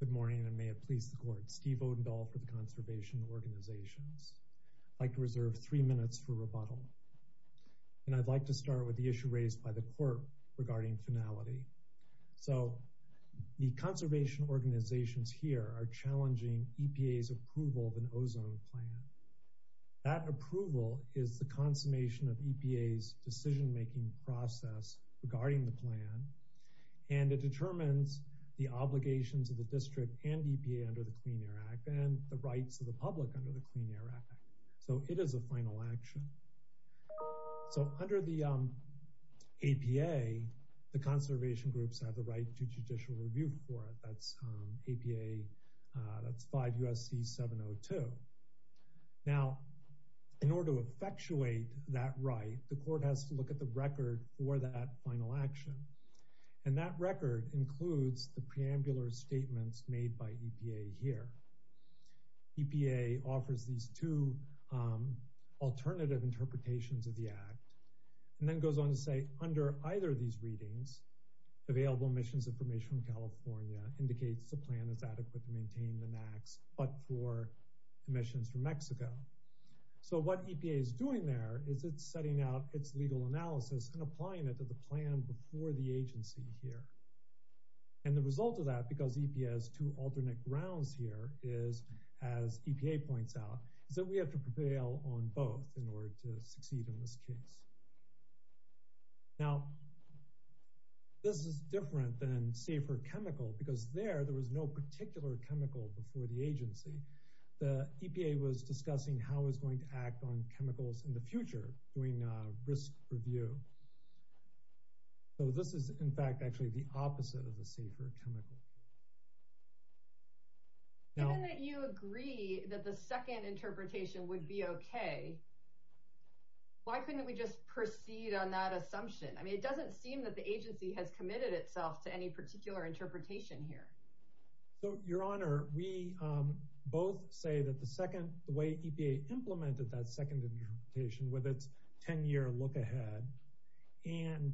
Good morning, and may it please the Court. Steve Odendall for the Conservation Organizations. I'd like to reserve three minutes for rebuttal, and I'd like to start with the issue raised by the Court regarding finality. So, the conservation organizations here are challenging EPA's approval of an ozone plan. That approval is the consummation of EPA's decision-making process regarding the plan, and it determines the obligations of the District and EPA under the Clean Air Act, and the rights of the public under the Clean Air Act. So, it is a final action. So, under the APA, the conservation groups have the right to judicial review for it. That's APA, that's 5 U.S.C. 702. Now, in order to effectuate that right, the Court has to look at the record for that final action, and that record includes the preambular statements made by EPA here. EPA offers these two alternative interpretations of the Act, and then goes on to say, under either of these readings, available emissions information from California indicates the plan is adequate to maintain the max, but for emissions from and applying it to the plan before the agency here. And the result of that, because EPA has two alternate grounds here, is, as EPA points out, is that we have to prevail on both in order to succeed in this case. Now, this is different than, say, for chemical, because there, there was no particular chemical before the agency. The EPA was discussing how it was going to act on chemicals in the future, doing risk review. So, this is, in fact, actually the opposite of the safer chemical. Now, even that you agree that the second interpretation would be okay, why couldn't we just proceed on that assumption? I mean, it doesn't seem that the agency has committed itself to any particular interpretation here. So, Your Honor, we both say that the second, the way EPA implemented that second interpretation, with its 10-year look ahead, and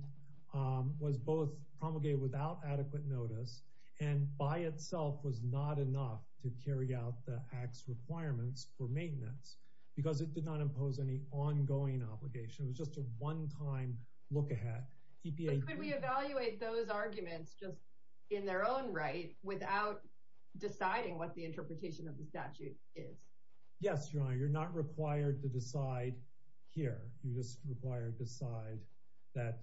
was both promulgated without adequate notice, and by itself was not enough to carry out the Act's requirements for maintenance, because it did not impose any ongoing obligation. It was just a one-time look ahead. EPA— in their own right, without deciding what the interpretation of the statute is. Yes, Your Honor, you're not required to decide here. You're just required to decide that,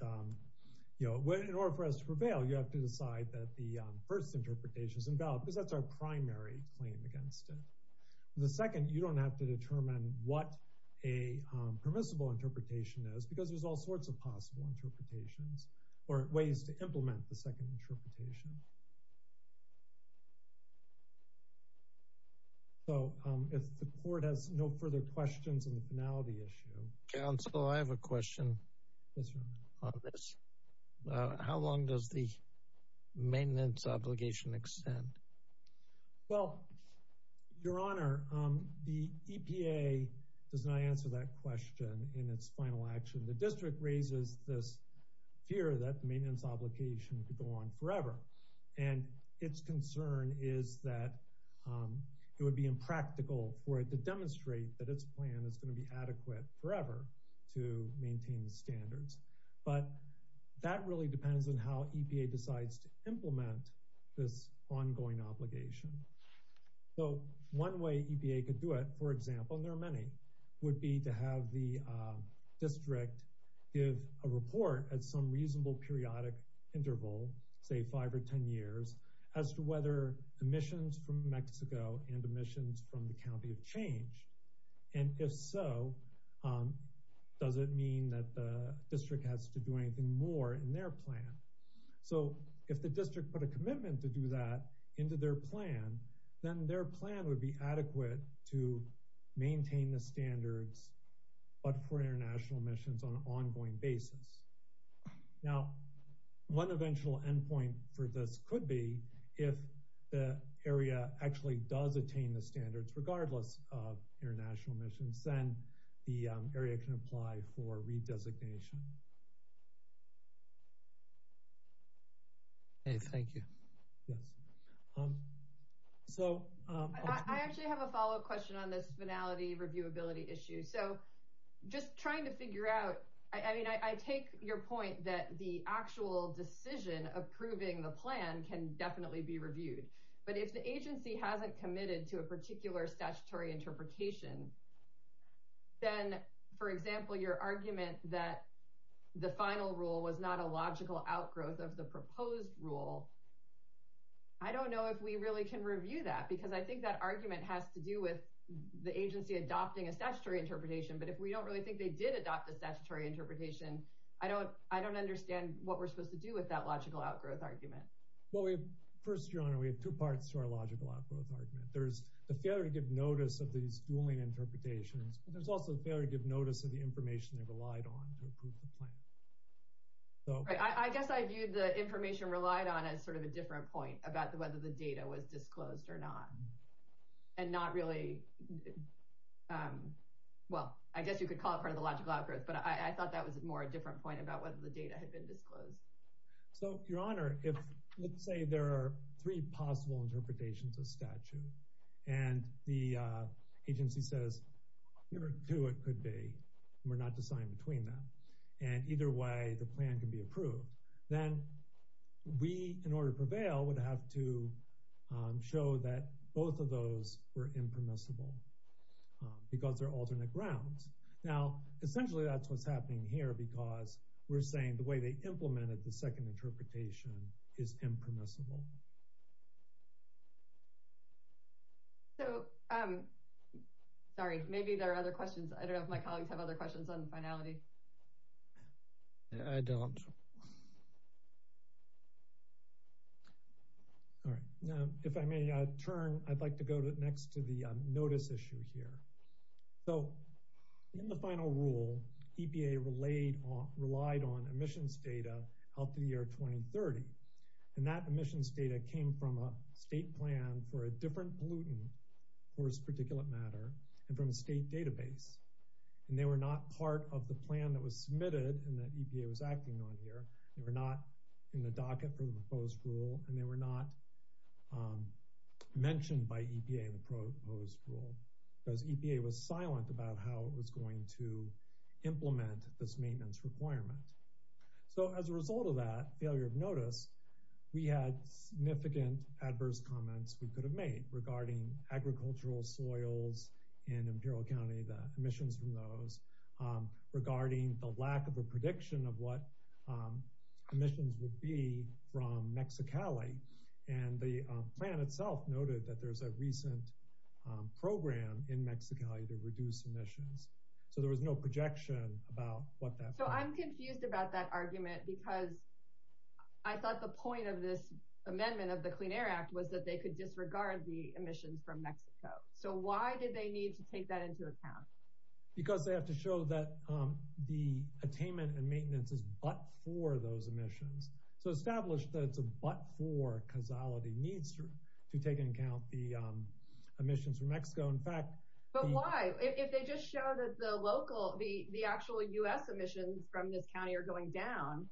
you know, in order for us to prevail, you have to decide that the first interpretation is invalid, because that's our primary claim against it. The second, you don't have to determine what a permissible interpretation is, because there's all sorts of possible interpretations, or ways to implement the second interpretation. So, if the Court has no further questions on the finality issue— Counsel, I have a question. Yes, Your Honor. On this. How long does the maintenance obligation extend? Well, Your Honor, the EPA does not answer that question in its final action. The District raises this fear that the maintenance obligation could go on forever, and its concern is that it would be impractical for it to demonstrate that its plan is going to be adequate forever to maintain the standards. But that really depends on how EPA decides to implement this ongoing obligation. So, one way EPA could do it, for example—and there are many—would be to have the District give a report at some reasonable periodic interval, say five or ten years, as to whether emissions from Mexico and emissions from the county have changed. And if so, does it mean that the District has to do anything more in their plan? So, if the District put a commitment to do that into their plan, then their plan would be adequate to maintain the standards, but for international emissions, on an ongoing basis. Now, one eventual endpoint for this could be if the area actually does attain the standards, regardless of international emissions, then the area can apply for redesignation. Okay, thank you. Yes. So— I actually have a follow-up question on this finality reviewability issue. So, just trying to figure out—I mean, I take your point that the actual decision approving the plan can definitely be reviewed, but if the agency hasn't committed to a particular statutory interpretation, then, for example, your argument that the final rule was not a logical outgrowth of the proposed rule, I don't know if we really can review that, because I think that argument has to do with the agency adopting a statutory interpretation, but if we don't really think they did adopt a statutory interpretation, I don't understand what we're supposed to do with that logical outgrowth argument. Well, first, Joanna, we have two parts to our logical outgrowth argument. There's the failure to give notice of these dueling interpretations, but there's also the failure to give notice of the information they relied on to approve the plan. Right. I guess I viewed the information relied on as sort of a different point about whether the data was disclosed or not, and not really—well, I guess you could call it part of the logical outgrowth, but I thought that was more a different point about whether the data had been disclosed. So, Your Honor, if—let's say there are three possible interpretations of statute, and the agency says, here are two it could be, and we're not deciding between them, and either way the plan can be approved, then we, in order to prevail, would have to show that both of those were impermissible, because they're alternate grounds. Now, essentially that's what's happening here, because we're saying the way they implemented the second interpretation is impermissible. So, sorry, maybe there are other questions. I don't know if my colleagues have other questions on the finality. I don't. All right. Now, if I may turn, I'd like to go next to the notice issue here. So, in the final rule, EPA relied on emissions data up to the year 2030, and that emissions data came from a state plan for a different pollutant, of course, particulate matter, and from a state database, and they were not part of the plan that was submitted and that EPA was acting on here. They were not in the docket for the proposed rule, and they were not mentioned by EPA in the proposed rule, because EPA was silent about how it was going to implement this maintenance requirement. So, as a result of that failure of notice, we had significant adverse comments we could have made regarding agricultural soils in Imperial County, the emissions from those, regarding the lack of a prediction of what emissions would be from Mexicali, and the plan itself noted that there's a recent program in Mexicali to reduce emissions. So, there was no projection about what So, I'm confused about that argument, because I thought the point of this amendment of the Clean Air Act was that they could disregard the emissions from Mexico. So, why did they need to take that into account? Because they have to show that the attainment and maintenance is but for those emissions. So, establish that it's a but for causality needs to take into account the local, the actual U.S. emissions from this county are going down.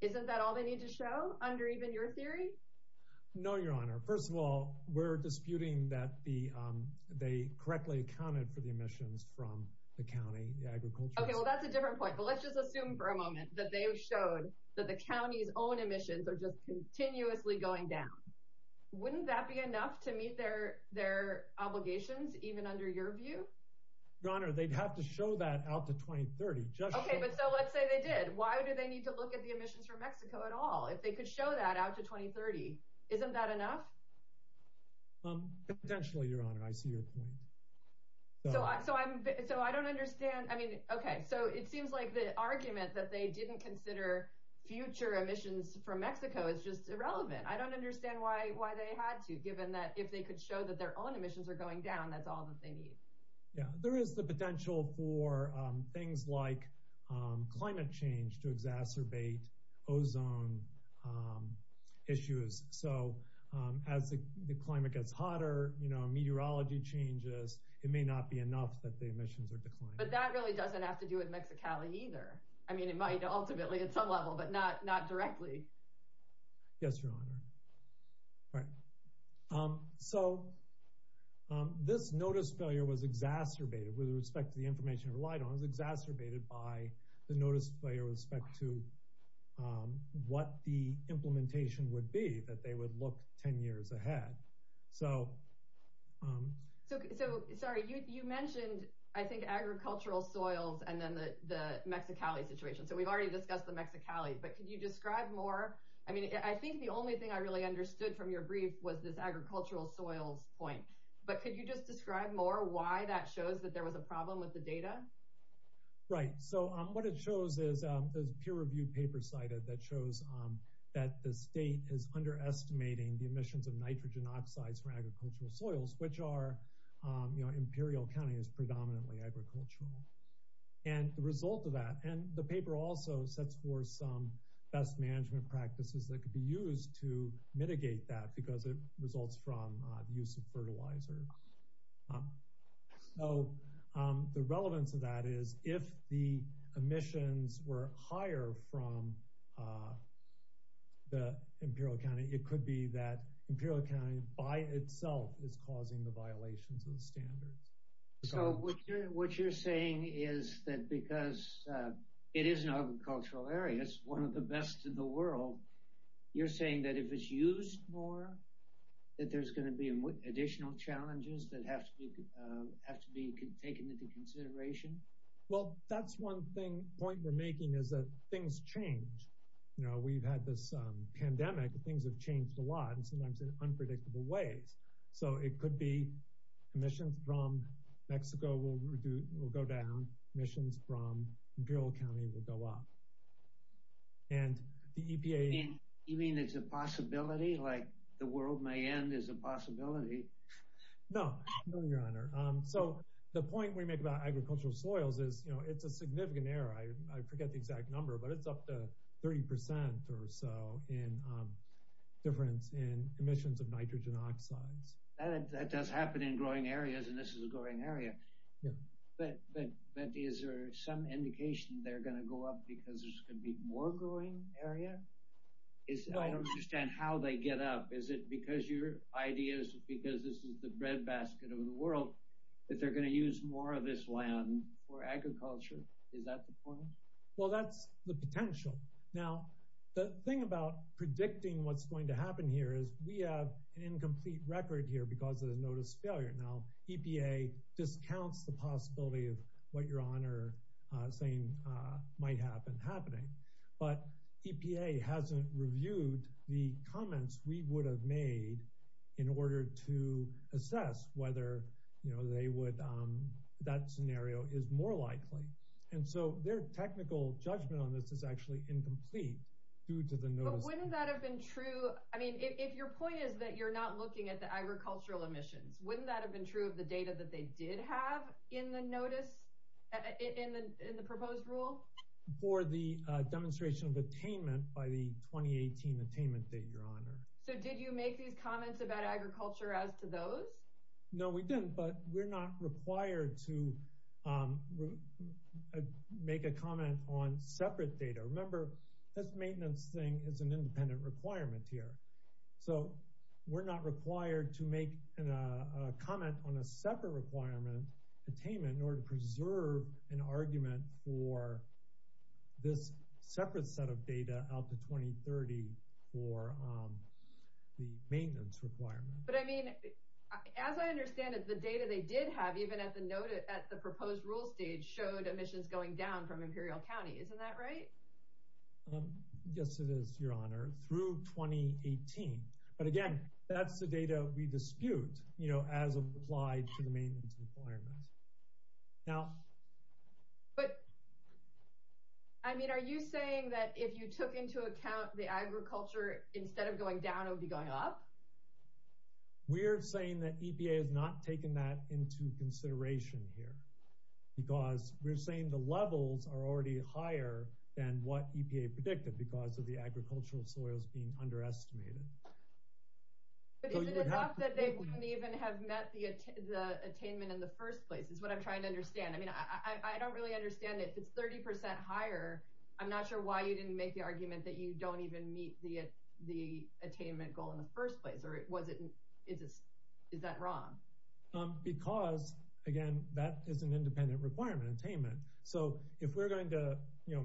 Isn't that all they need to show, under even your theory? No, Your Honor. First of all, we're disputing that they correctly accounted for the emissions from the county, the agriculture. Okay, well, that's a different point, but let's just assume for a moment that they showed that the county's own emissions are just continuously going down. Wouldn't that be enough to meet their obligations, even under your view? Your Honor, they'd have to show that out to 2030. Okay, but so let's say they did. Why do they need to look at the emissions from Mexico at all? If they could show that out to 2030, isn't that enough? Potentially, Your Honor. I see your point. So, I don't understand. I mean, okay. So, it seems like the argument that they didn't consider future emissions from Mexico is just irrelevant. I don't understand why they had to, given that if they could show that their own emissions are going down, that's all that they need. There is the potential for things like climate change to exacerbate ozone issues. So, as the climate gets hotter, meteorology changes, it may not be enough that the emissions are declining. But that really doesn't have to do with Mexicali either. I mean, it might ultimately at some level, but not directly. Yes, Your Honor. All right. So, this notice failure was exacerbated with respect to the information relied on. It was exacerbated by the notice failure with respect to what the implementation would be, that they would look 10 years ahead. So, sorry, you mentioned, I think, agricultural soils and then the Mexicali situation. So, we've already discussed the Mexicali. But could you describe more? I mean, I think the only thing I really understood from your brief was this agricultural soils point. But could you just describe more why that shows that there was a problem with the data? Right. So, what it shows is this peer-reviewed paper cited that shows that the state is underestimating the emissions of nitrogen oxides from agricultural soils, which are, you know, Imperial County is predominantly agricultural. And the result of that, and the paper also sets forth some best management practices that could be used to mitigate that because it results from the use of fertilizer. So, the relevance of that is if the emissions were higher from the Imperial County, it could be that Imperial County by itself is causing the violations of standards. So, what you're saying is that because it is an agricultural area, it's one of the best in the world. You're saying that if it's used more, that there's going to be additional challenges that have to be taken into consideration? Well, that's one point we're making is that things change. You know, we've had this pandemic, things have changed a lot and sometimes in emissions from Mexico will go down, emissions from Imperial County will go up. And the EPA... You mean it's a possibility, like the world may end is a possibility? No, no, your honor. So, the point we make about agricultural soils is, you know, it's a significant error. I forget the exact number, but it's up to 30 percent or so in difference in emissions of nitrogen oxides. That does happen in growing areas and this is a growing area, but is there some indication they're going to go up because there's going to be more growing area? I don't understand how they get up. Is it because your ideas, because this is the bread basket of the world, that they're going to use more of this land for agriculture? Is that the point? Well, that's the potential. Now, the thing about predicting what's going to happen here is we have an incomplete record here because of the notice failure. Now, EPA discounts the possibility of what your honor saying might have been happening, but EPA hasn't reviewed the comments we would have made in order to assess whether, you know, that scenario is more likely. And so, their technical judgment on this is actually incomplete due to the notice. But wouldn't that have been true? I mean, if your point is that you're not looking at the agricultural emissions, wouldn't that have been true of the data that they did have in the notice, in the proposed rule? For the demonstration of attainment by the 2018 attainment date, your honor. So, did you make these comments about agriculture as to those? No, we didn't, but we're not required to make a comment on separate data. Remember, this maintenance thing is an independent requirement here. So, we're not required to make a comment on a separate requirement, attainment, in order to preserve an argument for this separate set of data out to 2030 for the maintenance requirement. But I mean, as I understand it, the data they did have, even at the notice, at the proposed rule stage, showed emissions going down from Imperial County. Isn't that right? Yes, it is, your honor, through 2018. But again, that's the data we dispute, you know, as applied to the maintenance requirements. Now. But, I mean, are you saying that if you took into account the agriculture, instead of going down, it would be going up? We're saying that EPA has not taken that into consideration here, because we're saying the levels are already higher than what EPA predicted because of the agricultural soils being underestimated. But is it enough that they wouldn't even have met the attainment in the first place, is what I'm trying to understand. I mean, I don't really understand it. If it's 30 percent higher, I'm not sure why you didn't make the argument that you don't even meet the attainment goal in the first place. Or is that wrong? Because, again, that is an independent requirement, attainment. So if we're going to, you know,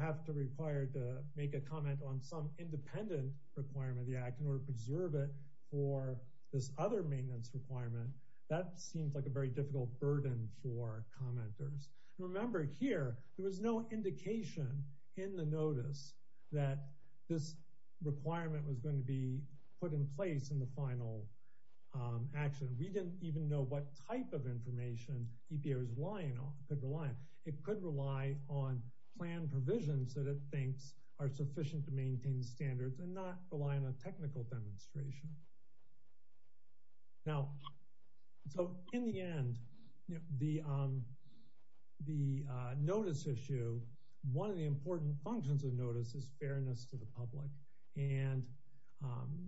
have to make a comment on some independent requirement of the Act in order to preserve it for this other maintenance requirement, that seems like a very difficult burden for commenters. Remember, here, there was no indication in the notice that this requirement was going to be put in place in the final action. We didn't even know what type of information EPA was relying on, could rely on. It could rely on plan provisions that it thinks are sufficient to maintain standards and not rely on a technical demonstration. Now, so in the end, the notice issue, one of the important functions of notice is fairness to the public. And,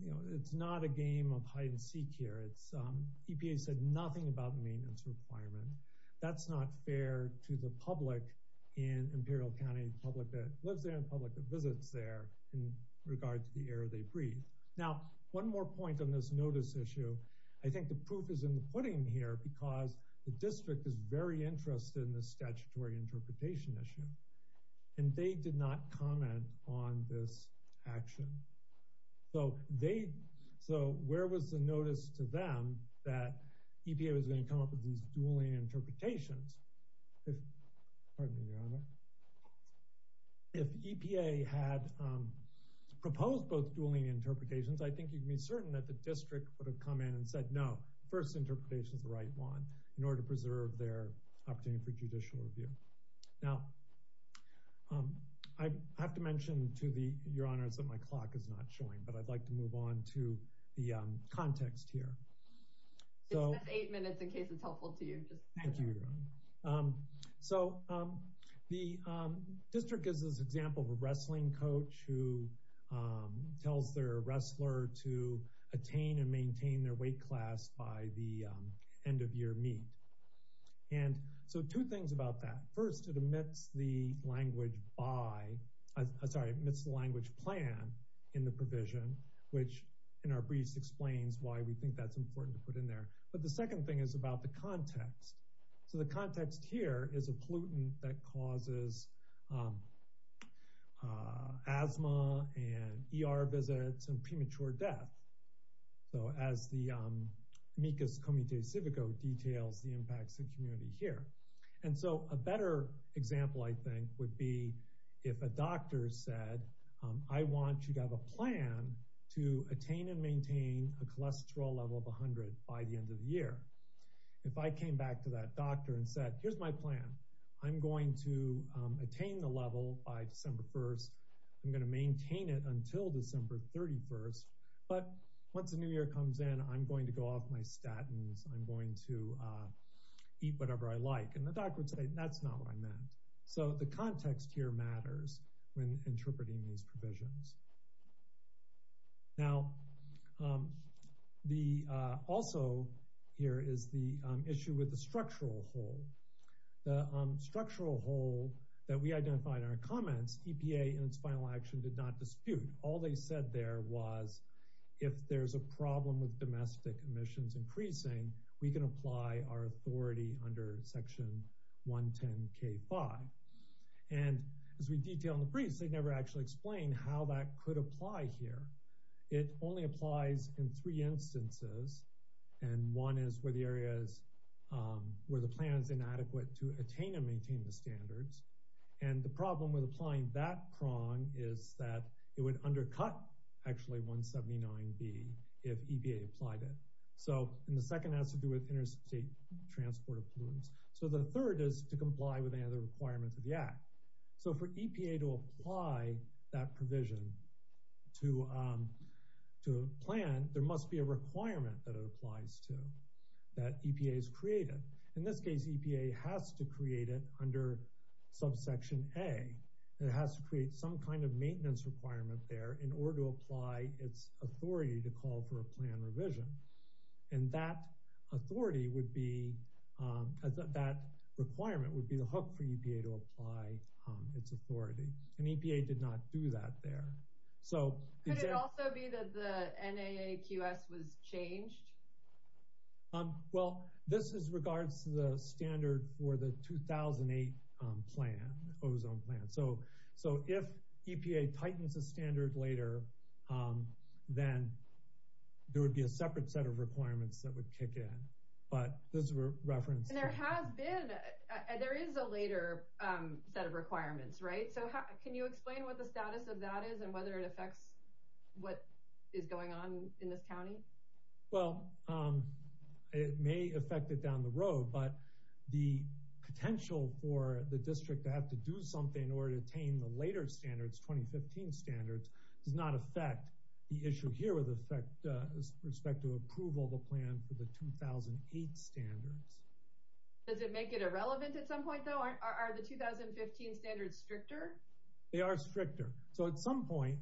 you know, it's not a game of hide and seek here. EPA said nothing about maintenance requirement. That's not fair to the public in Imperial County, public that lives there and public that visits there in regard to the air they breathe. Now, one more point on this notice issue. I think the proof is in the pudding here because the district is very interested in the statutory interpretation issue. And they did not comment on this action. So they, so where was the notice to them that EPA was going to come up with these dueling interpretations? If, pardon me, Your Honor, if EPA had proposed both dueling interpretations, I think you'd be certain that the district would have come in and said, no, first interpretation is the right one in order to preserve their opportunity for judicial review. Now, I have to mention to the, Your Honors, that my clock is not showing, but I'd like to move on to the context here. Just eight minutes in case it's helpful to you. Thank you, Your Honor. So the district gives this example of a wrestling coach who tells their wrestler to attain and maintain their weight class by the end of year meet. And so two things about that. First, it omits the language by, that's important to put in there. But the second thing is about the context. So the context here is a pollutant that causes asthma and ER visits and premature death. So as the amicus committee civico details the impacts of community here. And so a better example, I think, would be if a doctor said, I want you to have a plan to attain and maintain a cholesterol level of 100 by the end of the year. If I came back to that doctor and said, here's my plan. I'm going to attain the level by December 1st. I'm going to maintain it until December 31st. But once the new year comes in, I'm going to go off my statins. I'm going to eat whatever I like. And the doctor would say, that's not what I meant. So the context here matters when interpreting these provisions. Now, the also here is the issue with the structural hole. The structural hole that we identified in our comments, EPA in its final action did not dispute. All they said there was, if there's a problem with domestic emissions increasing, we can apply our authority under Section 110K5. And as we detail in the briefs, they never actually explain how that could apply here. It only applies in three instances. And one is where the plan is inadequate to attain and maintain the standards. And the problem with applying that prong is that it would undercut actually 179B if EPA applied it. So and the second has to do with interstate transport of pollutants. So the third is to comply with any other requirements of the Act. So for EPA to apply that provision to a plan, there must be a requirement that it applies to that EPA has created. In this case, EPA has to create it under Subsection A. It has to create some kind of maintenance requirement there in order to apply its authority to call for a plan revision. And that authority would be, that requirement would be the hook for EPA to apply its authority. And EPA did not do that there. Could it also be that the NAAQS was changed? Well, this is regards to the standard for the 2008 plan, ozone plan. So if EPA tightens the standard later, then there would be a separate set of requirements that would kick in. But those were referenced. And there has been, there is a later set of requirements, right? So can you explain what the status of that is and whether it affects what is going on in this county? Well, it may affect it down the road, but the potential for the district to have to do something in order to attain the later standards, 2015 standards, does not affect the issue here with respect to approval of a plan for the 2008 standards. Does it make it irrelevant at some point though? Are the 2015 standards stricter? They are stricter. So at some point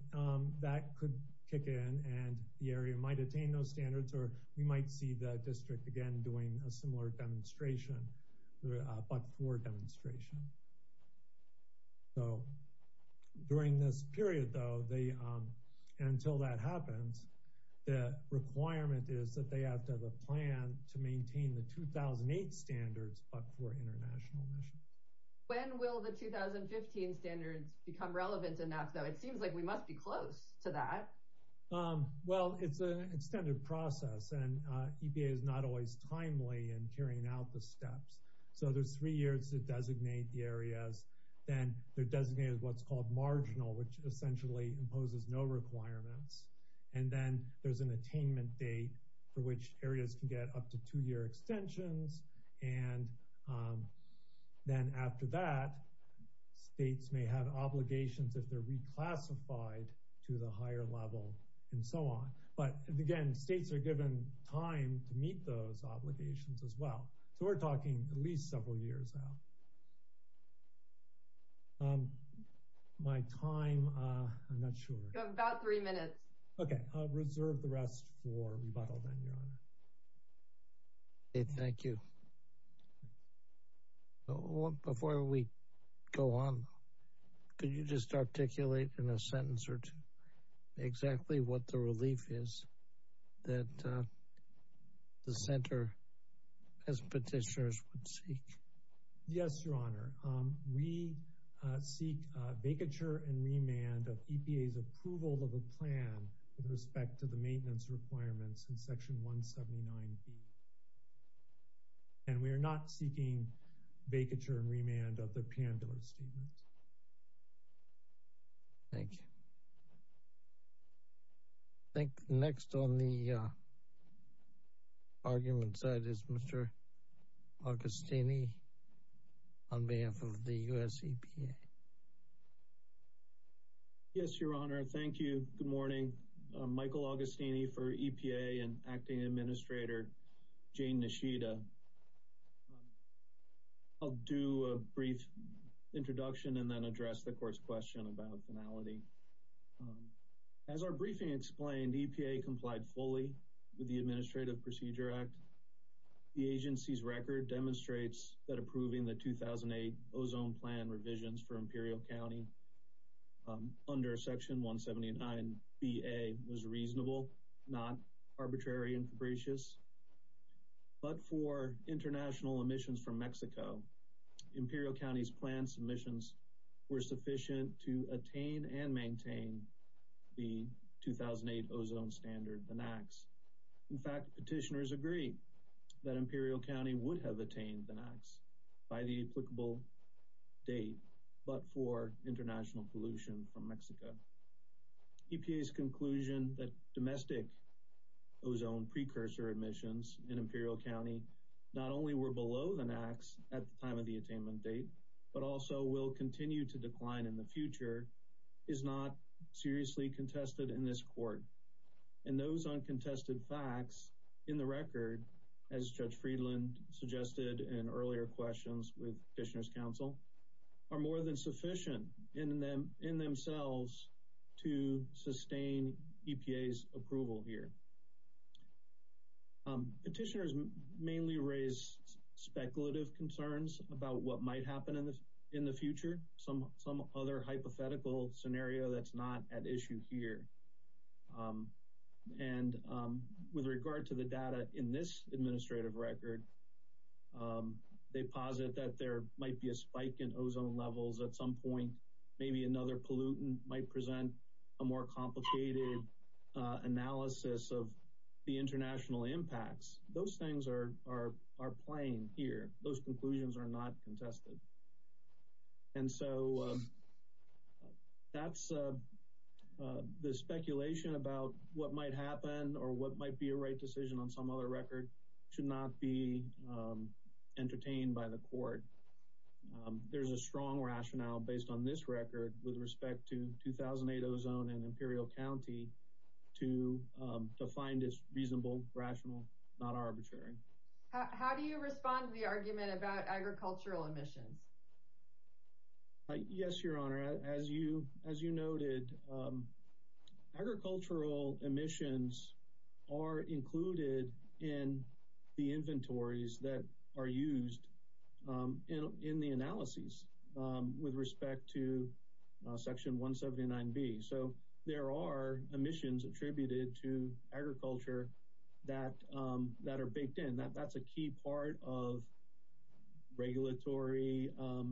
that could kick in and the area might attain those standards, or we might see the district again doing a similar demonstration, a buck four demonstration. So during this period though, until that happens, the requirement is that they have to have a plan to maintain the 2008 standards, but for international missions. When will the 2015 standards become relevant enough though? It seems like we must be close to that. Well, it's an extended process and EPA is not always timely in carrying out the steps. So there's three years to designate the areas. Then they're designated what's called marginal, which essentially imposes no requirements. And then there's an attainment date for which areas can get up to two year extensions. And then after that, states may have obligations if they're reclassified to the higher level and so on. But again, states are given time to meet those obligations as well. So we're talking at least several years now. My time, I'm not sure. About three minutes. Okay, I'll reserve the rest for John. Could you just articulate in a sentence or two exactly what the relief is that the center as petitioners would seek? Yes, your honor. We seek vacature and remand of EPA's approval of a plan with respect to the maintenance requirements in section 179B. And we are not seeking vacature and remand of the P&R statement. Thank you. I think next on the argument side is Mr. Augustini on behalf of the US EPA. Yes, your honor. Thank you. Good morning. Michael Augustini for EPA and acting administrator. Jane Nishida. I'll do a brief introduction and then address the court's question about finality. As our briefing explained, EPA complied fully with the Administrative Procedure Act. The agency's record demonstrates that approving the 2008 ozone plan revisions for Imperial County under section 179BA was reasonable, not arbitrary and fabricious. But for international emissions from Mexico, Imperial County's planned submissions were sufficient to attain and maintain the 2008 ozone standard, the NAAQS. In fact, petitioners agree that Imperial County would have attained the NAAQS by the applicable date, but for international pollution from Mexico. EPA's conclusion that domestic ozone precursor emissions in Imperial County not only were below the NAAQS at the time of the attainment date, but also will continue to decline in the future, is not seriously contested in this court. And those uncontested facts in the record, as Judge Friedland suggested in earlier questions with petitioner's counsel, are more than sufficient in themselves to sustain EPA's approval here. Petitioners mainly raise speculative concerns about what might happen in the future. Some other hypothetical scenario that's not at issue here. And with regard to the data in this administrative record, they posit that there might be a spike in ozone levels at some point. Maybe another pollutant might present a more complicated analysis of the international impacts. Those things are plain here. Those conclusions are not contested. And so that's the speculation about what might happen or what might be a right decision on some other record should not be entertained by the court. There's a strong rationale based on this record with respect to 2008 ozone in Imperial County to find it reasonable, rational, not reasonable. Yes, Your Honor. As you noted, agricultural emissions are included in the inventories that are used in the analyses with respect to Section 179B. So there are emissions attributed to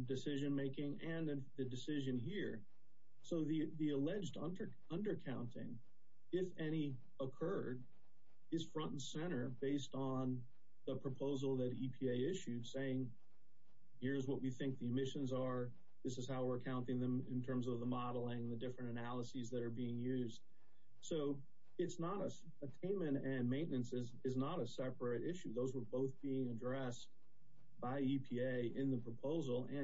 decision making and the decision here. So the alleged undercounting, if any, occurred is front and center based on the proposal that EPA issued saying, here's what we think the emissions are. This is how we're counting them in terms of the modeling, the different analyses that are being used. So attainment and maintenance is not a separate issue. Those were both being and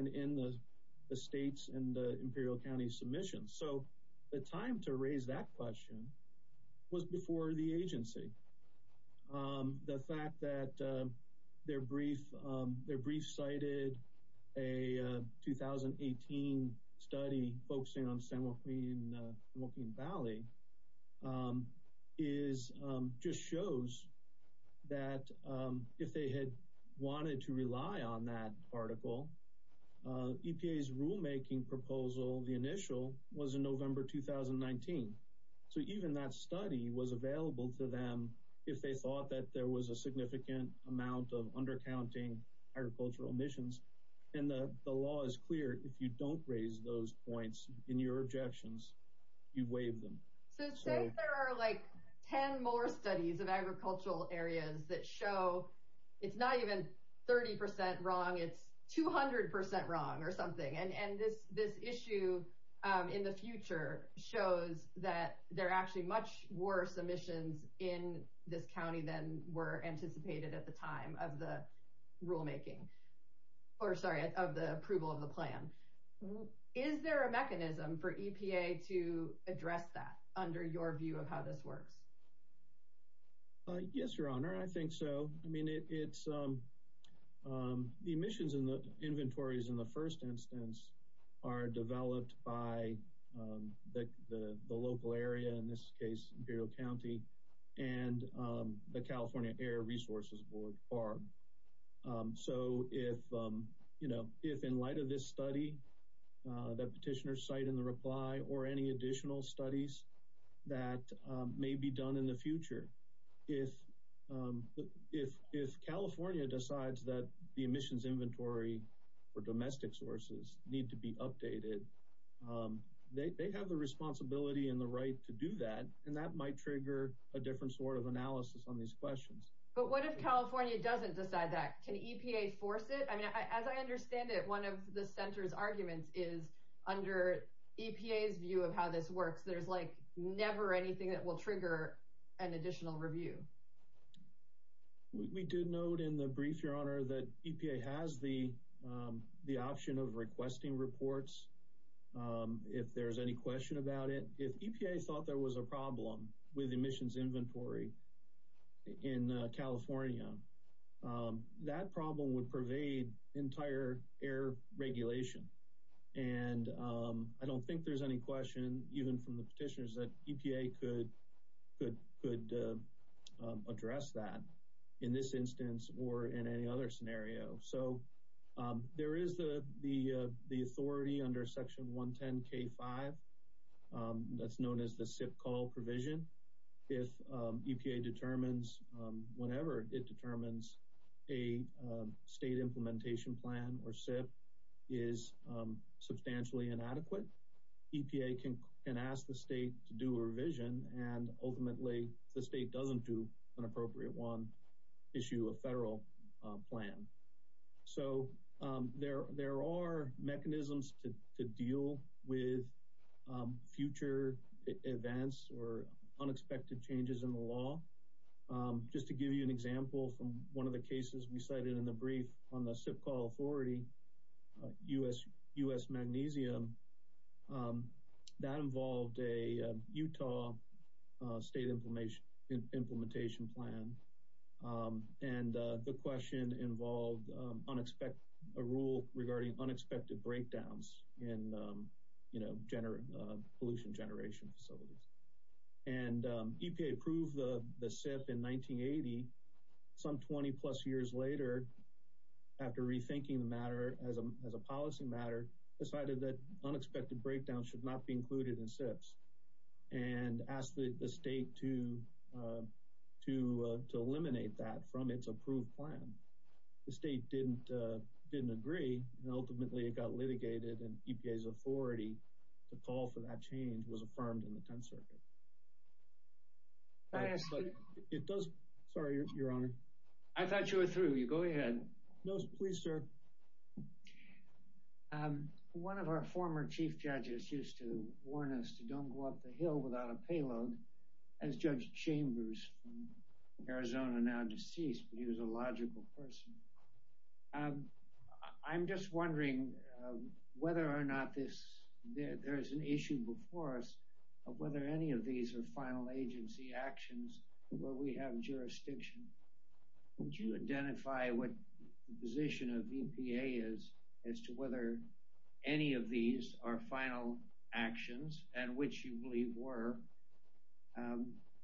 in the states and the Imperial County submissions. So the time to raise that question was before the agency. The fact that their brief cited a 2018 study focusing on San Joaquin Valley just shows that if they had wanted to rely on that article, EPA's rulemaking proposal, the initial, was in November 2019. So even that study was available to them if they thought that there was a significant amount of undercounting agricultural emissions. And the law is clear if you don't raise those points in your objections, you waive them. So since there are like 10 more studies of agricultural areas that show it's not even 30% wrong, it's 200% wrong or something. And this issue in the future shows that there are actually much worse emissions in this county than were anticipated at the time of the rulemaking, or sorry, of the approval of the plan. Is there a mechanism for EPA to address that under your view of how this works? Yes, your honor. I think so. I mean, it's the emissions in the inventories in the first instance are developed by the local area, in this case, Imperial County, and the California Air Resources Board, BARB. So if in light of this study that petitioners cite in the reply or any additional studies that may be done in the future, if California decides that the emissions inventory for that might trigger a different sort of analysis on these questions. But what if California doesn't decide that? Can EPA force it? I mean, as I understand it, one of the center's arguments is under EPA's view of how this works. There's like never anything that will trigger an additional review. We did note in the brief, your honor, that EPA has the option of requesting reports. If there's any question about it, if EPA thought there was a problem with emissions inventory in California, that problem would pervade entire air regulation. And I don't think there's any question, even from the petitioners, that EPA could address that in this instance or in any other scenario. So there is the authority under Section 110K5 that's known as the SIP call provision. If EPA determines, whenever it determines a state implementation plan or SIP is substantially inadequate, EPA can ask the state to do a revision. And ultimately, the state doesn't do an appropriate one, issue a federal plan. So there are mechanisms to deal with future events or unexpected changes in the law. Just to give you an example from one of the cases we cited in the brief on the SIP call authority, U.S. magnesium, that involved a Utah state implementation plan. And the question involved a rule regarding unexpected breakdowns in pollution generation facilities. And EPA approved the SIP in 1980, some 20 plus years later, after rethinking the matter as a policy matter, decided that unexpected breakdowns should not be included in SIPs and asked the state to eliminate that from its approved plan. The state didn't agree, and ultimately it got litigated, and EPA's authority to call for that change was affirmed in the 10th Circuit. Sorry, Your Honor. I thought you were through. You go ahead. No, please, sir. One of our former chief judges used to warn us to don't go up the hill without a payload, as Judge Chambers from Arizona, now deceased, but he was a logical person. I'm just wondering whether or not this, there is an issue before us of whether any of these are final agency actions where we have jurisdiction. Would you identify what the position of EPA is as to whether any of these are final actions, and which you believe were,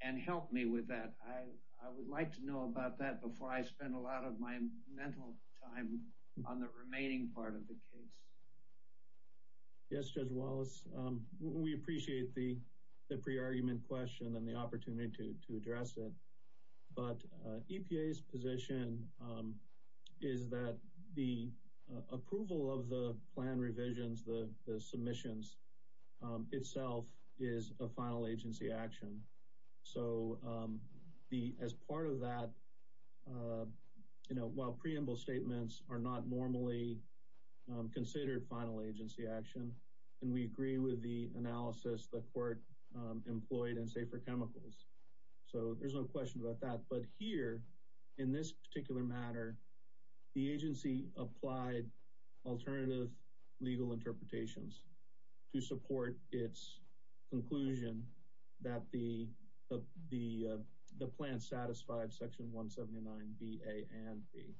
and help me with that. I would like to know about that before I spend a lot of my mental time on the remaining part of the case. Yes, Judge Wallace, we appreciate the pre-argument question and the opportunity to address it, but EPA's position is that the agency applied alternative legal interpretations to support its conclusion that the plan satisfied section 179 B, A, and B.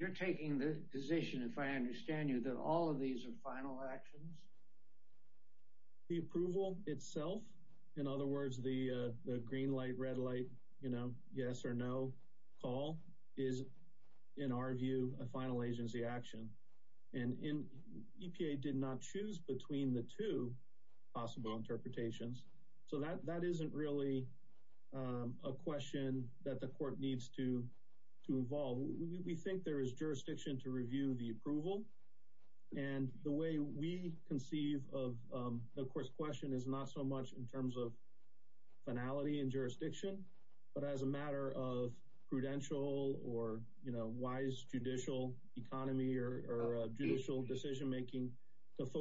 You're taking the position, if I understand you, that all of these are final actions? The approval itself, in other words, the green light, red light, yes or no call, is, in our view, a final agency action. EPA did not choose between the two possible interpretations, so that isn't really a question that the court needs to involve. We think there is jurisdiction to review the approval, and the way we conceive of the question is not so much in terms of jurisdiction, but as a matter of prudential or wise judicial economy or judicial decision making.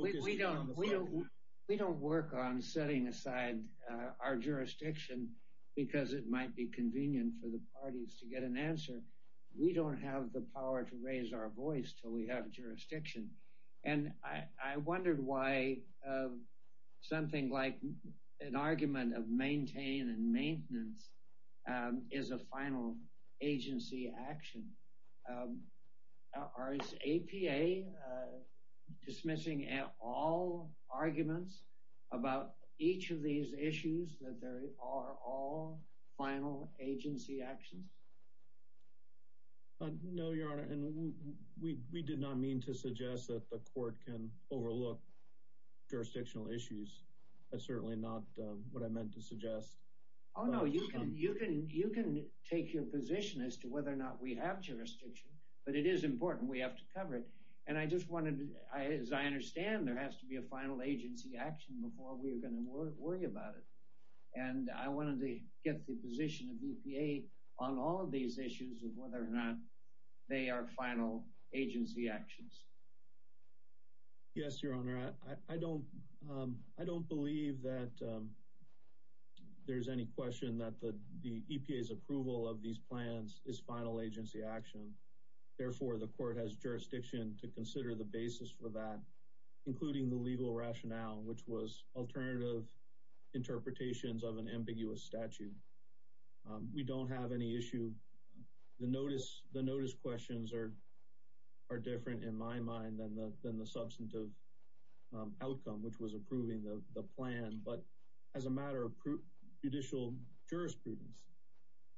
We don't work on setting aside our jurisdiction because it might be convenient for the parties to get an answer. We don't have the power to raise our voice until we have jurisdiction, and I wondered why something like an argument of maintain and maintenance is a final agency action. Is EPA dismissing at all arguments about each of these issues that are all final agency actions? No, Your Honor, and we did not mean to suggest that the court can overlook jurisdictional issues. That's certainly not what I meant to suggest. Oh, no, you can take your position as to whether or not we have jurisdiction, but it is important we have to cover it, and I just wanted, as I understand, there has to be a final agency action before we are going to worry about it, and I wanted to get the position of EPA on all of these issues of whether or not they are final agency actions. Yes, Your Honor, I don't believe that there's any question that the EPA's approval of these plans is final agency action. Therefore, the court has jurisdiction to consider the basis for that, including the legal rationale, which was alternative interpretations of an ambiguous statute. We don't have any issue. The notice questions are different, in my mind, than the substantive outcome, which was approving the plan, but as a matter of judicial jurisprudence,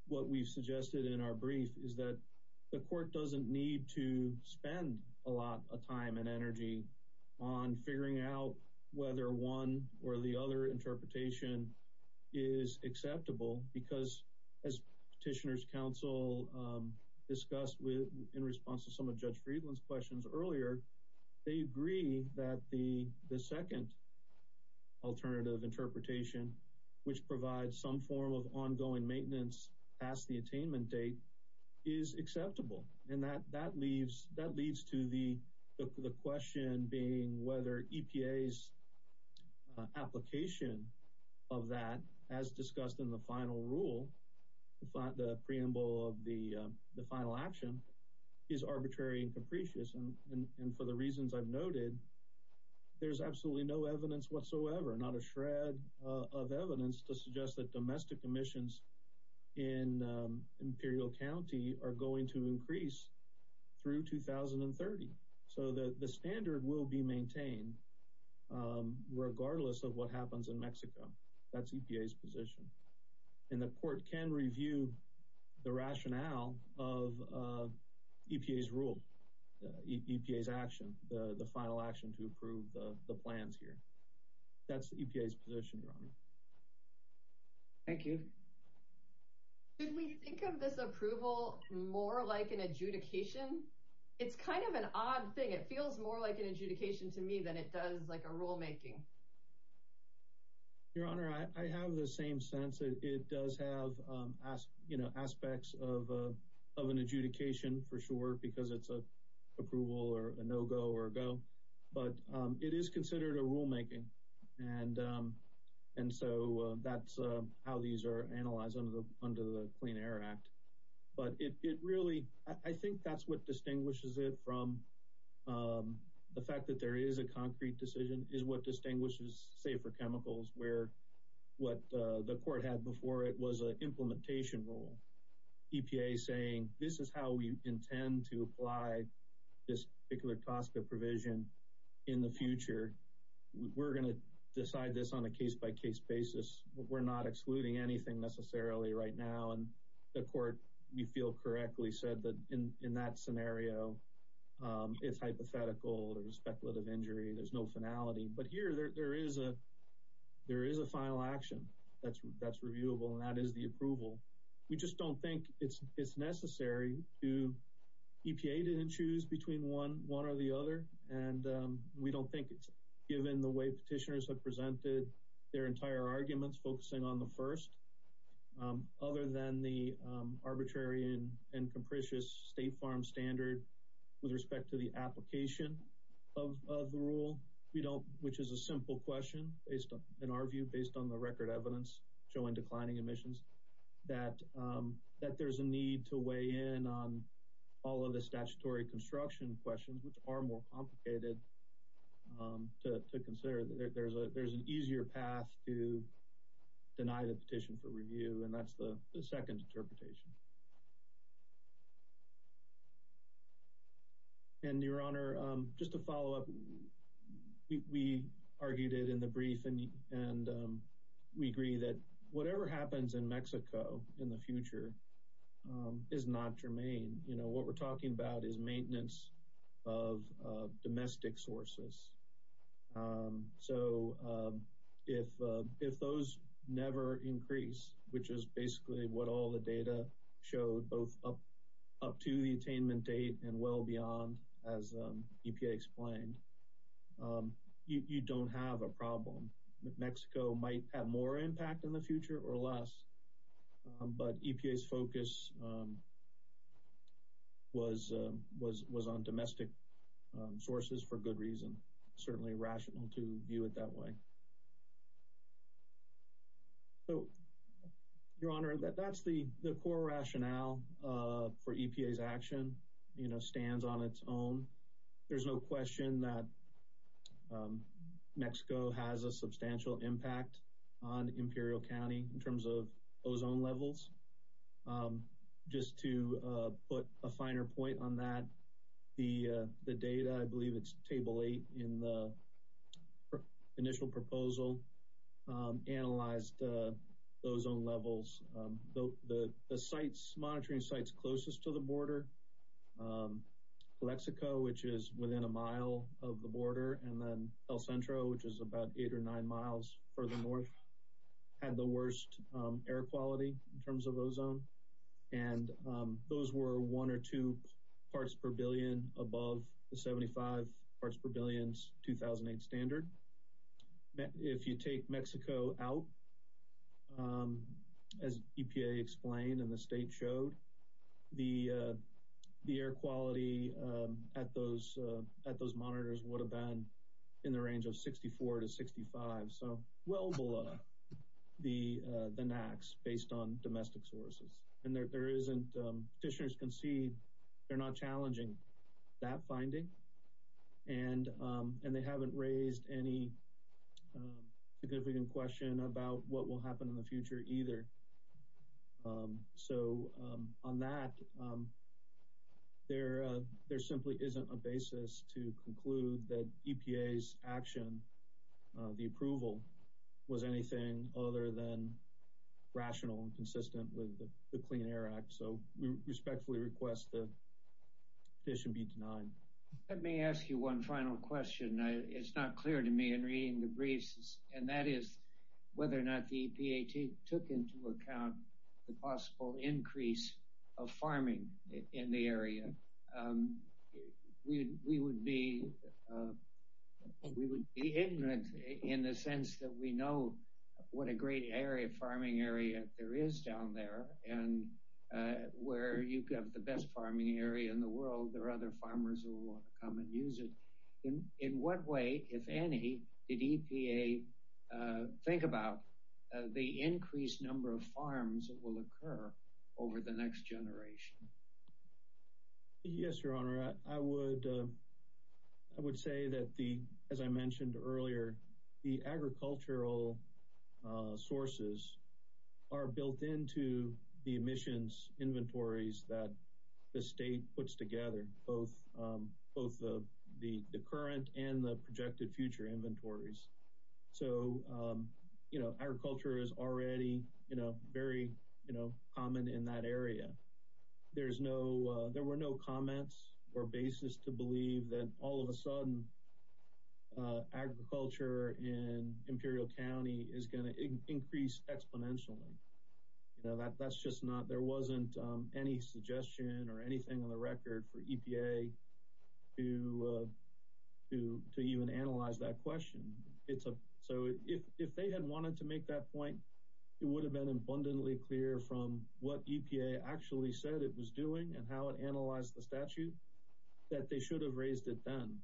what we suggested in our brief is that the court doesn't need to spend a lot of time and energy on figuring out whether one or the other interpretation is acceptable because, as Petitioner's Counsel discussed in response to some of Judge Friedland's questions earlier, they agree that the second alternative interpretation, which provides some form of ongoing maintenance past the attainment date, is acceptable, and that leads to the question being whether EPA's application of that, as discussed in the final rule, the preamble of the final action, is arbitrary and capricious. And for the reasons I've noted, there's absolutely no evidence whatsoever, not a shred of evidence, to suggest that domestic are going to increase through 2030. So the standard will be maintained, regardless of what happens in Mexico. That's EPA's position. And the court can review the rationale of EPA's rule, EPA's action, the final action to approve the plans here. That's EPA's position, Your Honor. Thank you. Did we think of this approval more like an adjudication? It's kind of an odd thing. It feels more like an adjudication to me than it does like a rulemaking. Your Honor, I have the same sense. It does have aspects of an adjudication, for sure, because it's an approval or a no-go or a go. But it is considered a rulemaking, and so that's how these are analyzed under the Clean Air Act. But it really, I think that's what distinguishes it from the fact that there is a concrete decision, is what distinguishes safer chemicals, where what the court had before it was an implementation rule. EPA saying, this is how we intend to apply this particular cost of provision in the future. We're going to decide this on a case-by-case basis. We're not excluding anything necessarily right now. And the court, we feel correctly, said that in that scenario, it's hypothetical or a speculative injury. There's no finality. But here, there is a final action that's reviewable, and that is the approval. We just don't think it's necessary. EPA didn't choose between one or the other, and we don't think it's, given the way petitioners have presented their entire arguments focusing on the first, other than the arbitrary and capricious State Farm standard with respect to the application of the rule, which is a simple question, in our view, based on the record evidence showing declining emissions, that there's a need to weigh in on all of the statutory construction questions, which are more complicated to consider. There's an easier path to deny the petition for review, and that's the second we agree that whatever happens in Mexico in the future is not germane. You know, what we're talking about is maintenance of domestic sources. So, if those never increase, which is basically what all the data showed, both up to the attainment date and well beyond, as EPA explained, you don't have a problem. Mexico might have more impact in the future or less, but EPA's focus was on domestic sources for good reason. Certainly rational to view it that way. So, Your Honor, that's the core rationale for EPA's action, you know, stands on its own. There's no question that Mexico has a substantial impact on Imperial County in terms of ozone levels. Just to put a finer point on that, the data, I believe it's Table 8 in the initial proposal, analyzed the ozone levels. The monitoring sites closest to the border, Calexico, which is within a mile of the border, and then El Centro, which is about eight or nine miles further north, had the worst air quality in terms of ozone. And those were one or two parts per billion above the 75 parts per billion 2008 standard. If you take Mexico out, as EPA explained and the state showed, the air quality at those monitors would have been in the range of 64 to 65. So, well below the NAAQS based on domestic sources. And there isn't, petitioners can see they're not challenging that finding. And they haven't raised any significant question about what will happen in the future either. So, on that, there simply isn't a basis to conclude that EPA's action, the approval, was anything other than rational and consistent with the Clean Air Act. So, we respectfully request that this should be denied. Let me ask you one final question. It's not clear to me in reading the briefs, and that is whether or not the EPA took into account the possible increase of farming in the we know what a great area farming area there is down there. And where you have the best farming area in the world, there are other farmers who will come and use it. In what way, if any, did EPA think about the increased number of farms that will occur over the next generation? Yes, Your Honor. I would say that the, as I mentioned earlier, the agricultural sources are built into the emissions inventories that the state puts together, both the current and the projected future inventories. So, you know, agriculture is already, you know, very, you know, common in that area. There's no, there were no comments or basis to believe that all of a sudden agriculture in Imperial County is going to increase exponentially. You know, that's just not, there wasn't any suggestion or anything on the record for EPA to even analyze that question. So if they had wanted to make that point, it would have been abundantly clear from what EPA actually said it was doing and how it analyzed the statute, that they should have raised it then.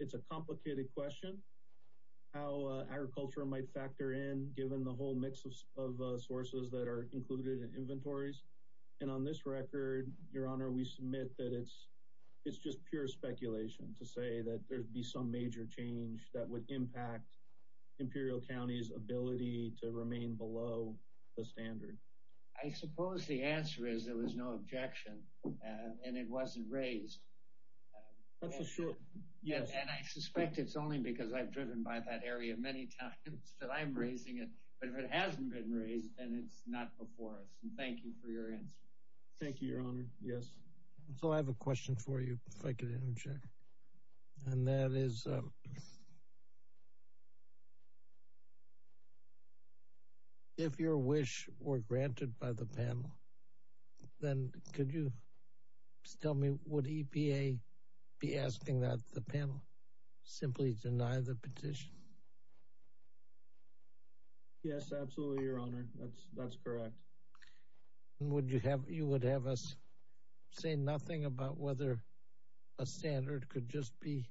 It's a complicated question, how agriculture might factor in given the whole mix of sources that are included in inventories. And on this record, Your Honor, we submit that it's just pure speculation to say that there'd be some change that would impact Imperial County's ability to remain below the standard. I suppose the answer is there was no objection and it wasn't raised. That's for sure. Yes. And I suspect it's only because I've driven by that area many times that I'm raising it. But if it hasn't been raised, then it's not before us. And thank you for your answer. Thank you, Your Honor. Yes. So I have a question for you, if I could interject. And that is, if your wish were granted by the panel, then could you tell me, would EPA be asking that the panel simply deny the petition? Yes, absolutely, Your Honor. That's correct. And would you have, you would have us say nothing about whether a standard could just be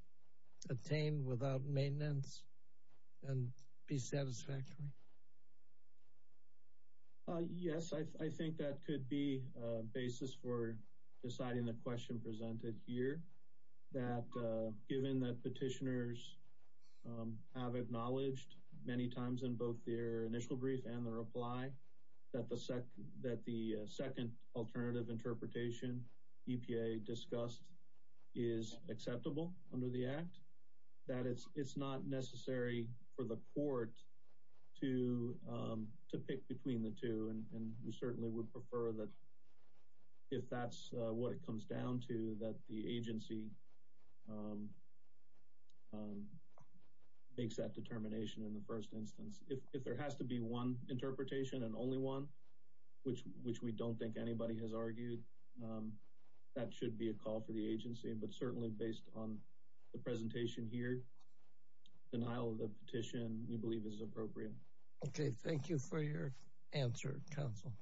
attained without maintenance and be satisfactory? Yes, I think that could be a basis for deciding the question presented here, that given that petitioners have acknowledged many times in both their initial brief and the reply that the second alternative interpretation EPA discussed is acceptable under the Act, that it's not necessary for the court to pick between the two. And we certainly would prefer that if that's what it comes down to, that the agency makes that determination in the first instance. If there has to be one interpretation and only one, which we don't think anybody has argued, that should be a call for the agency. But certainly based on the presentation here, denial of the petition we believe is appropriate. Okay. Thank you for your answer, counsel.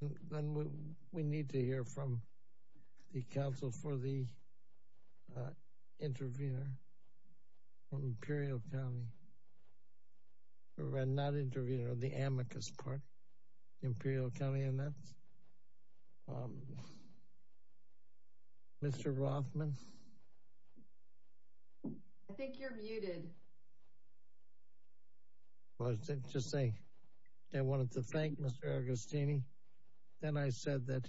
Thank you. Then we need to hear from the counsel for the intervener from Imperial County. Not intervener, the amicus part, Imperial County, and that's Mr. Rothman. I think you're muted. I was just saying I wanted to thank Mr. Agostini. Then I said that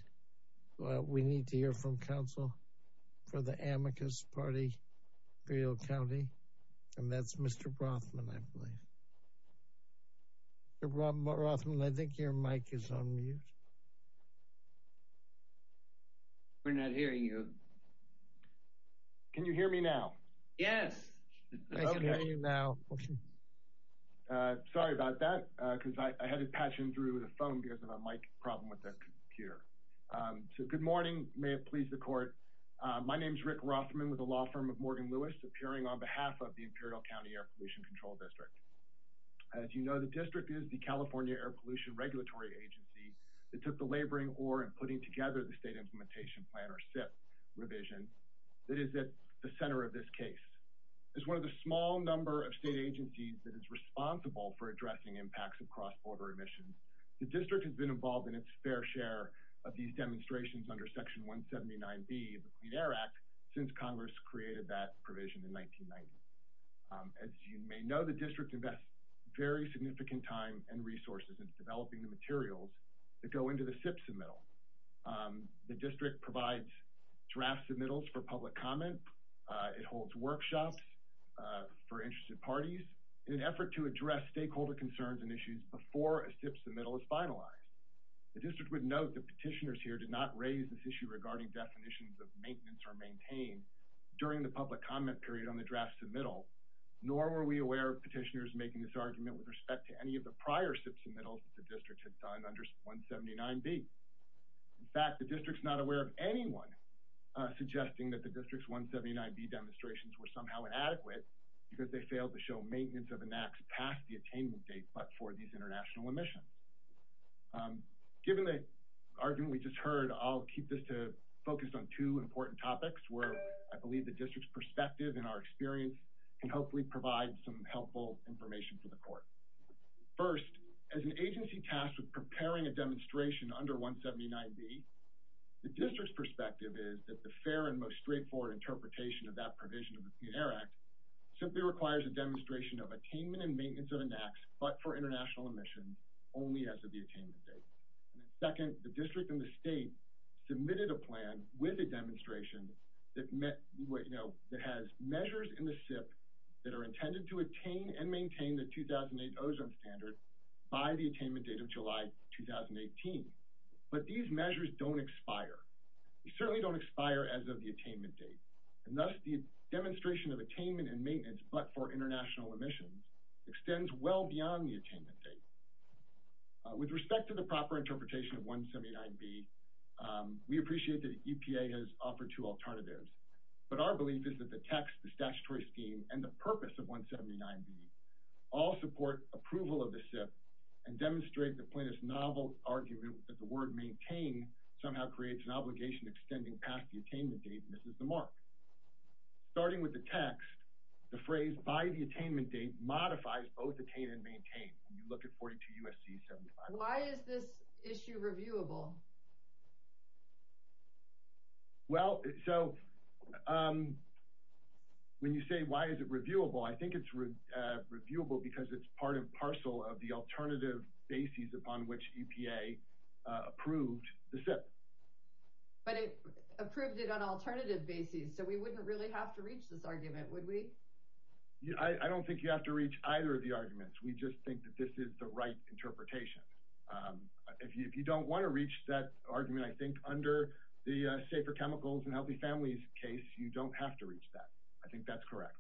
we need to hear from counsel for the amicus party, Imperial County, and that's Mr. Rothman, I believe. Mr. Rothman, I think your mic is on mute. We're not hearing you. Can you hear me now? Yes, I can hear you now. Sorry about that, because I had to patch in through the phone because of a mic problem with the computer. So good morning. May it please the court. My name is Rick Rothman with the law firm of Morgan Lewis, appearing on behalf of the Imperial County Air Pollution Control District. As you know, the district is the California Air Pollution Regulatory Agency, that took the laboring oar in putting together the State Implementation Plan, or SIP, revision that is at the center of this case. As one of the small number of state agencies that is responsible for addressing impacts of cross-border emissions, the district has been involved in its fair share of these demonstrations under Section 179B of the Clean Air Act since Congress created that provision in 1990. As you may know, the district invests very significant time and effort into the SIP submittal. The district provides draft submittals for public comment. It holds workshops for interested parties in an effort to address stakeholder concerns and issues before a SIP submittal is finalized. The district would note that petitioners here did not raise this issue regarding definitions of maintenance or maintain during the public comment period on the draft submittal, nor were we aware of petitioners making this argument with respect to any of the prior SIP submittals the district had done under 179B. In fact, the district is not aware of anyone suggesting that the district's 179B demonstrations were somehow inadequate because they failed to show maintenance of an act past the attainment date but for these international emissions. Given the argument we just heard, I'll keep this focused on two important topics where I believe the district's perspective and our experience can hopefully provide some helpful information for the court. First, as an agency tasked with preparing a demonstration under 179B, the district's perspective is that the fair and most straightforward interpretation of that provision of the Clean Air Act simply requires a demonstration of attainment and maintenance of an act but for international emissions only as of the attainment date. Second, the district and the state submitted a plan with a demonstration that has measures in the SIP that are intended to attain and maintain the 2008 ozone standard by the attainment date of July 2018, but these measures don't expire. They certainly don't expire as of the attainment date and thus the demonstration of attainment and maintenance but for international emissions extends well beyond the attainment date. With respect to the proper interpretation of 179B, we appreciate that EPA has offered two alternatives, but our belief is that the text, the statutory scheme, and the purpose of 179B all support approval of the SIP and demonstrate the plaintiff's novel argument that the word maintain somehow creates an obligation extending past the attainment date and misses the mark. Starting with the text, the phrase by the attainment date modifies both attain and maintain. You look at 42 U.S.C. 75. Why is this issue reviewable? Well, so when you say why is it reviewable, I think it's reviewable because it's part and parcel of the alternative bases upon which EPA approved the SIP. But it approved it on alternative bases, so we wouldn't really have to reach this argument, would we? I don't think you have to reach either of the arguments. We just think that this is the right interpretation. If you don't want to reach that argument, I think under the safer chemicals and healthy families case, you don't have to reach that. I think that's correct.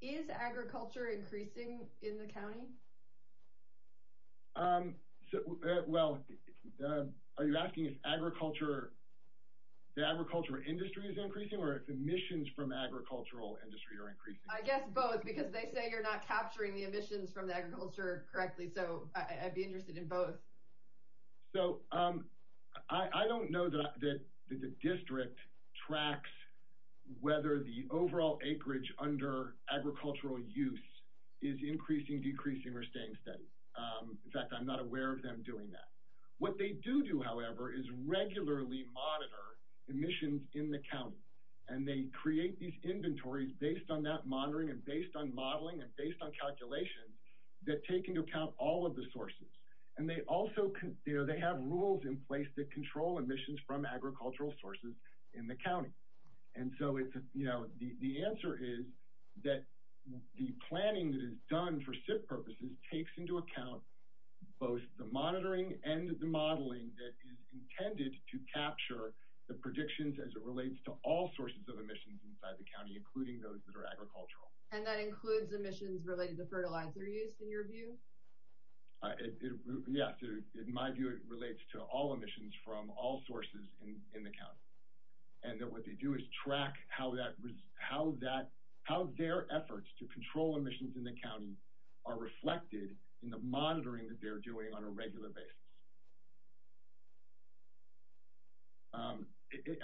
Is agriculture increasing in the county? Well, are you asking if agriculture, the agriculture industry is increasing or if emissions from agricultural industry are increasing? I guess both because they say you're not capturing the I don't know that the district tracks whether the overall acreage under agricultural use is increasing, decreasing, or staying steady. In fact, I'm not aware of them doing that. What they do do, however, is regularly monitor emissions in the county, and they create these inventories based on that monitoring and based on modeling and based on calculations that take account all of the sources. They also have rules in place that control emissions from agricultural sources in the county. The answer is that the planning that is done for SIP purposes takes into account both the monitoring and the modeling that is intended to capture the predictions as it relates to all sources of emissions inside the county, including those that are agricultural. And that includes emissions related to it. Yes, in my view, it relates to all emissions from all sources in the county, and that what they do is track how their efforts to control emissions in the county are reflected in the monitoring that they're doing on a regular basis.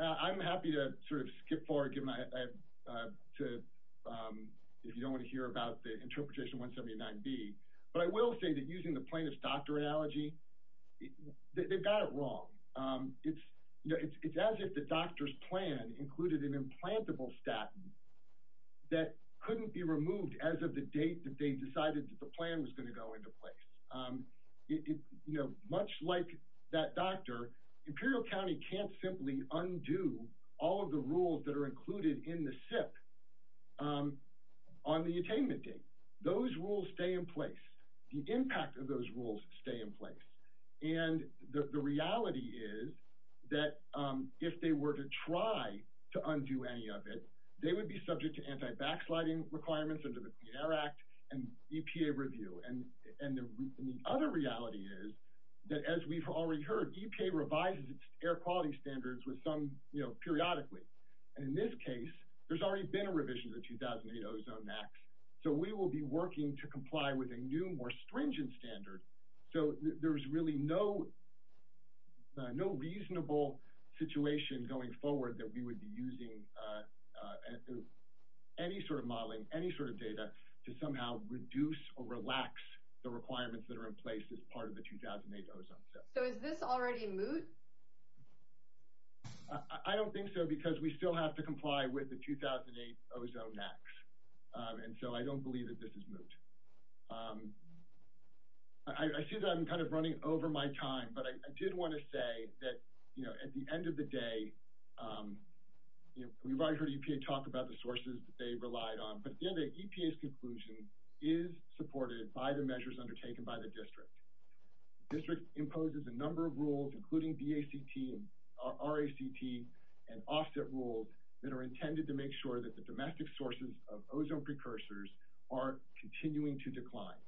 I'm happy to sort of skip forward if you don't want to hear about the interpretation 179b, but I will say that using the plaintiff's doctor analogy, they've got it wrong. It's as if the doctor's plan included an implantable statin that couldn't be removed as of the date that they decided that the plan was going to go into place. Much like that doctor, Imperial County can't simply undo all of the rules that are included in the SIP on the attainment date. Those rules stay in place. The impact of those rules stay in place. And the reality is that if they were to try to undo any of it, they would be subject to anti-backsliding requirements under the Clean Air Act and EPA review. And the other reality is that as we've already heard, EPA revises its air quality standards with some, you know, periodically. And in this case, there's already been a revision of the 2008 Ozone Act. So we will be working to comply with a new, more stringent standard. So there's really no reasonable situation going forward that we would be using any sort of modeling, any sort of data to somehow reduce or relax the requirements that are in place as part of the 2008 Ozone Act. So is this already moot? I don't think so because we still have to And so I don't believe that this is moot. I see that I'm kind of running over my time, but I did want to say that, you know, at the end of the day, you know, we've already heard EPA talk about the sources that they relied on. But in the end, EPA's conclusion is supported by the measures undertaken by the district. The district imposes a number of rules, including DACT, RACT, and offset rules that are intended to make sure that the domestic sources of ozone precursors are continuing to decline.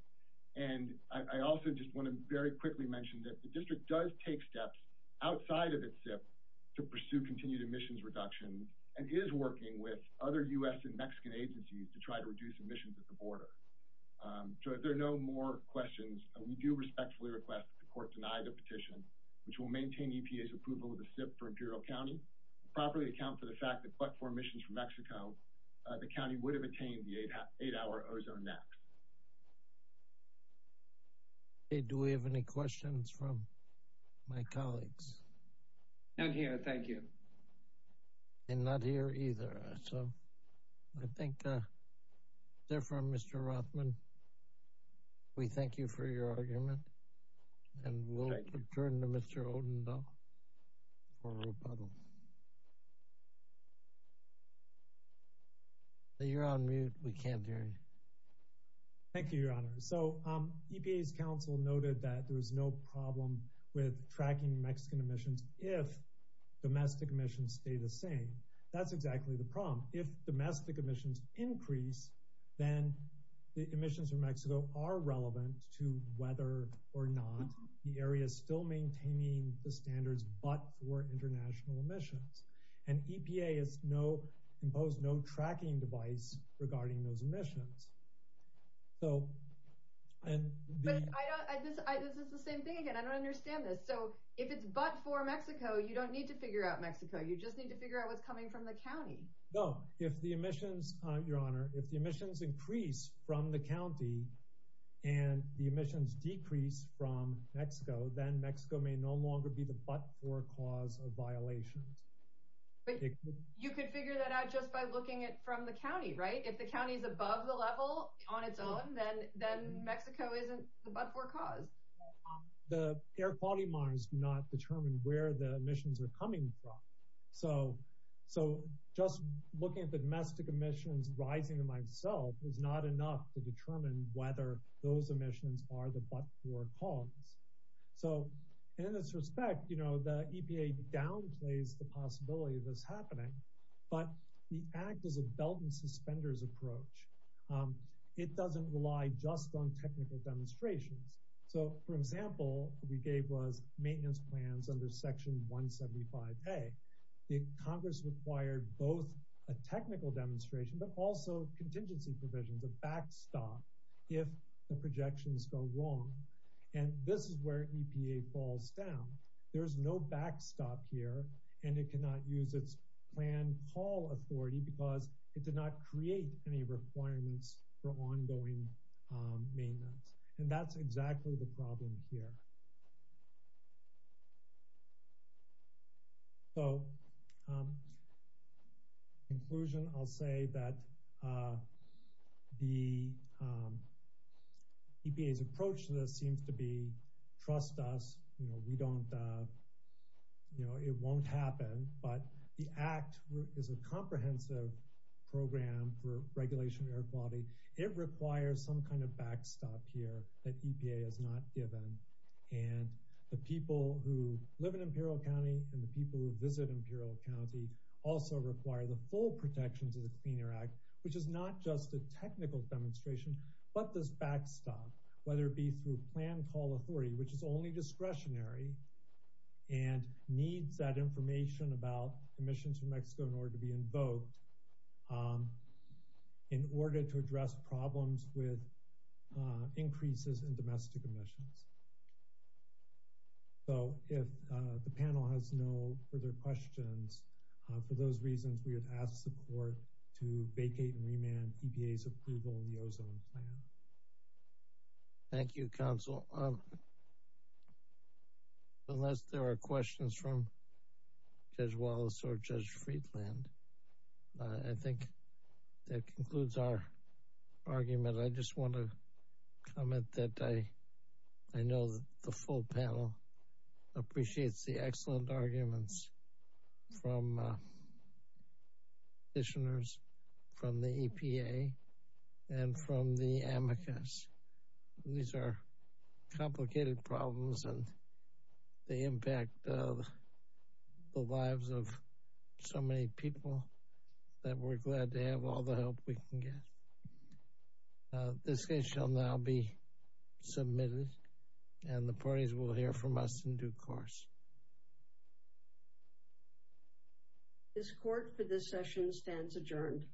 And I also just want to very quickly mention that the district does take steps outside of its SIP to pursue continued emissions reduction and is working with other U.S. and Mexican agencies to try to reduce emissions at the border. So if there are no more questions, we do respectfully request that the court deny the petition, which will maintain EPA's approval of the SIP for Imperial County, and properly account for the fact that, but for emissions from Mexico, the county would have attained the eight-hour ozone max. Okay. Do we have any questions from my colleagues? Not here. Thank you. And not here either. So I think, therefore, Mr. Rothman, we thank you for your argument. And we'll return to Mr. Odendo. For rebuttal. You're on mute. We can't hear you. Thank you, Your Honor. So EPA's counsel noted that there was no problem with tracking Mexican emissions if domestic emissions stay the same. That's exactly the problem. If domestic emissions increase, then the emissions from Mexico are relevant to whether or not the area is still maintaining the standards, but for international emissions. And EPA has imposed no tracking device regarding those emissions. This is the same thing again. I don't understand this. So if it's but for Mexico, you don't need to figure out Mexico. You just need to figure out what's coming from the county. No. If the emissions, Your Honor, if the emissions increase from the county, and the emissions decrease from Mexico, then Mexico may no longer be the but-for cause of violations. You could figure that out just by looking at from the county, right? If the county is above the level on its own, then Mexico isn't the but-for cause. The air quality monitors do not determine where the emissions are coming from. So just looking at the domestic emissions rising by itself is not enough to determine whether those emissions are the but-for cause. So in this respect, the EPA downplays the possibility of this happening, but the act is a belt-and-suspenders approach. It doesn't rely just on technical demonstrations. So for example, we gave maintenance plans under Section 175A. Congress required both a technical demonstration but also contingency provisions, a backstop, if the projections go wrong. And this is where EPA falls down. There's no backstop here, and it cannot use its plan call authority because it did not create any requirements for ongoing maintenance. And that's exactly the problem here. So in conclusion, I'll say that the EPA's approach to this seems to be trust us. We don't, you know, it won't happen, but the act is a comprehensive program for regulation of air and the people who live in Imperial County and the people who visit Imperial County also require the full protections of the Clean Air Act, which is not just a technical demonstration, but this backstop, whether it be through plan call authority, which is only discretionary and needs that information about emissions from Mexico in order to be invoked in order to address problems with increases in domestic emissions. So if the panel has no further questions, for those reasons, we would ask support to vacate and remand EPA's approval in the ozone plan. Thank you, Counsel. Well, unless there are questions from Judge Wallace or Judge Friedland, I think that concludes our argument. I just want to comment that I know that the full panel appreciates the excellent complicated problems and the impact of the lives of so many people that we're glad to have all the help we can get. This case shall now be submitted and the parties will hear from us in due course. This court for this session stands adjourned.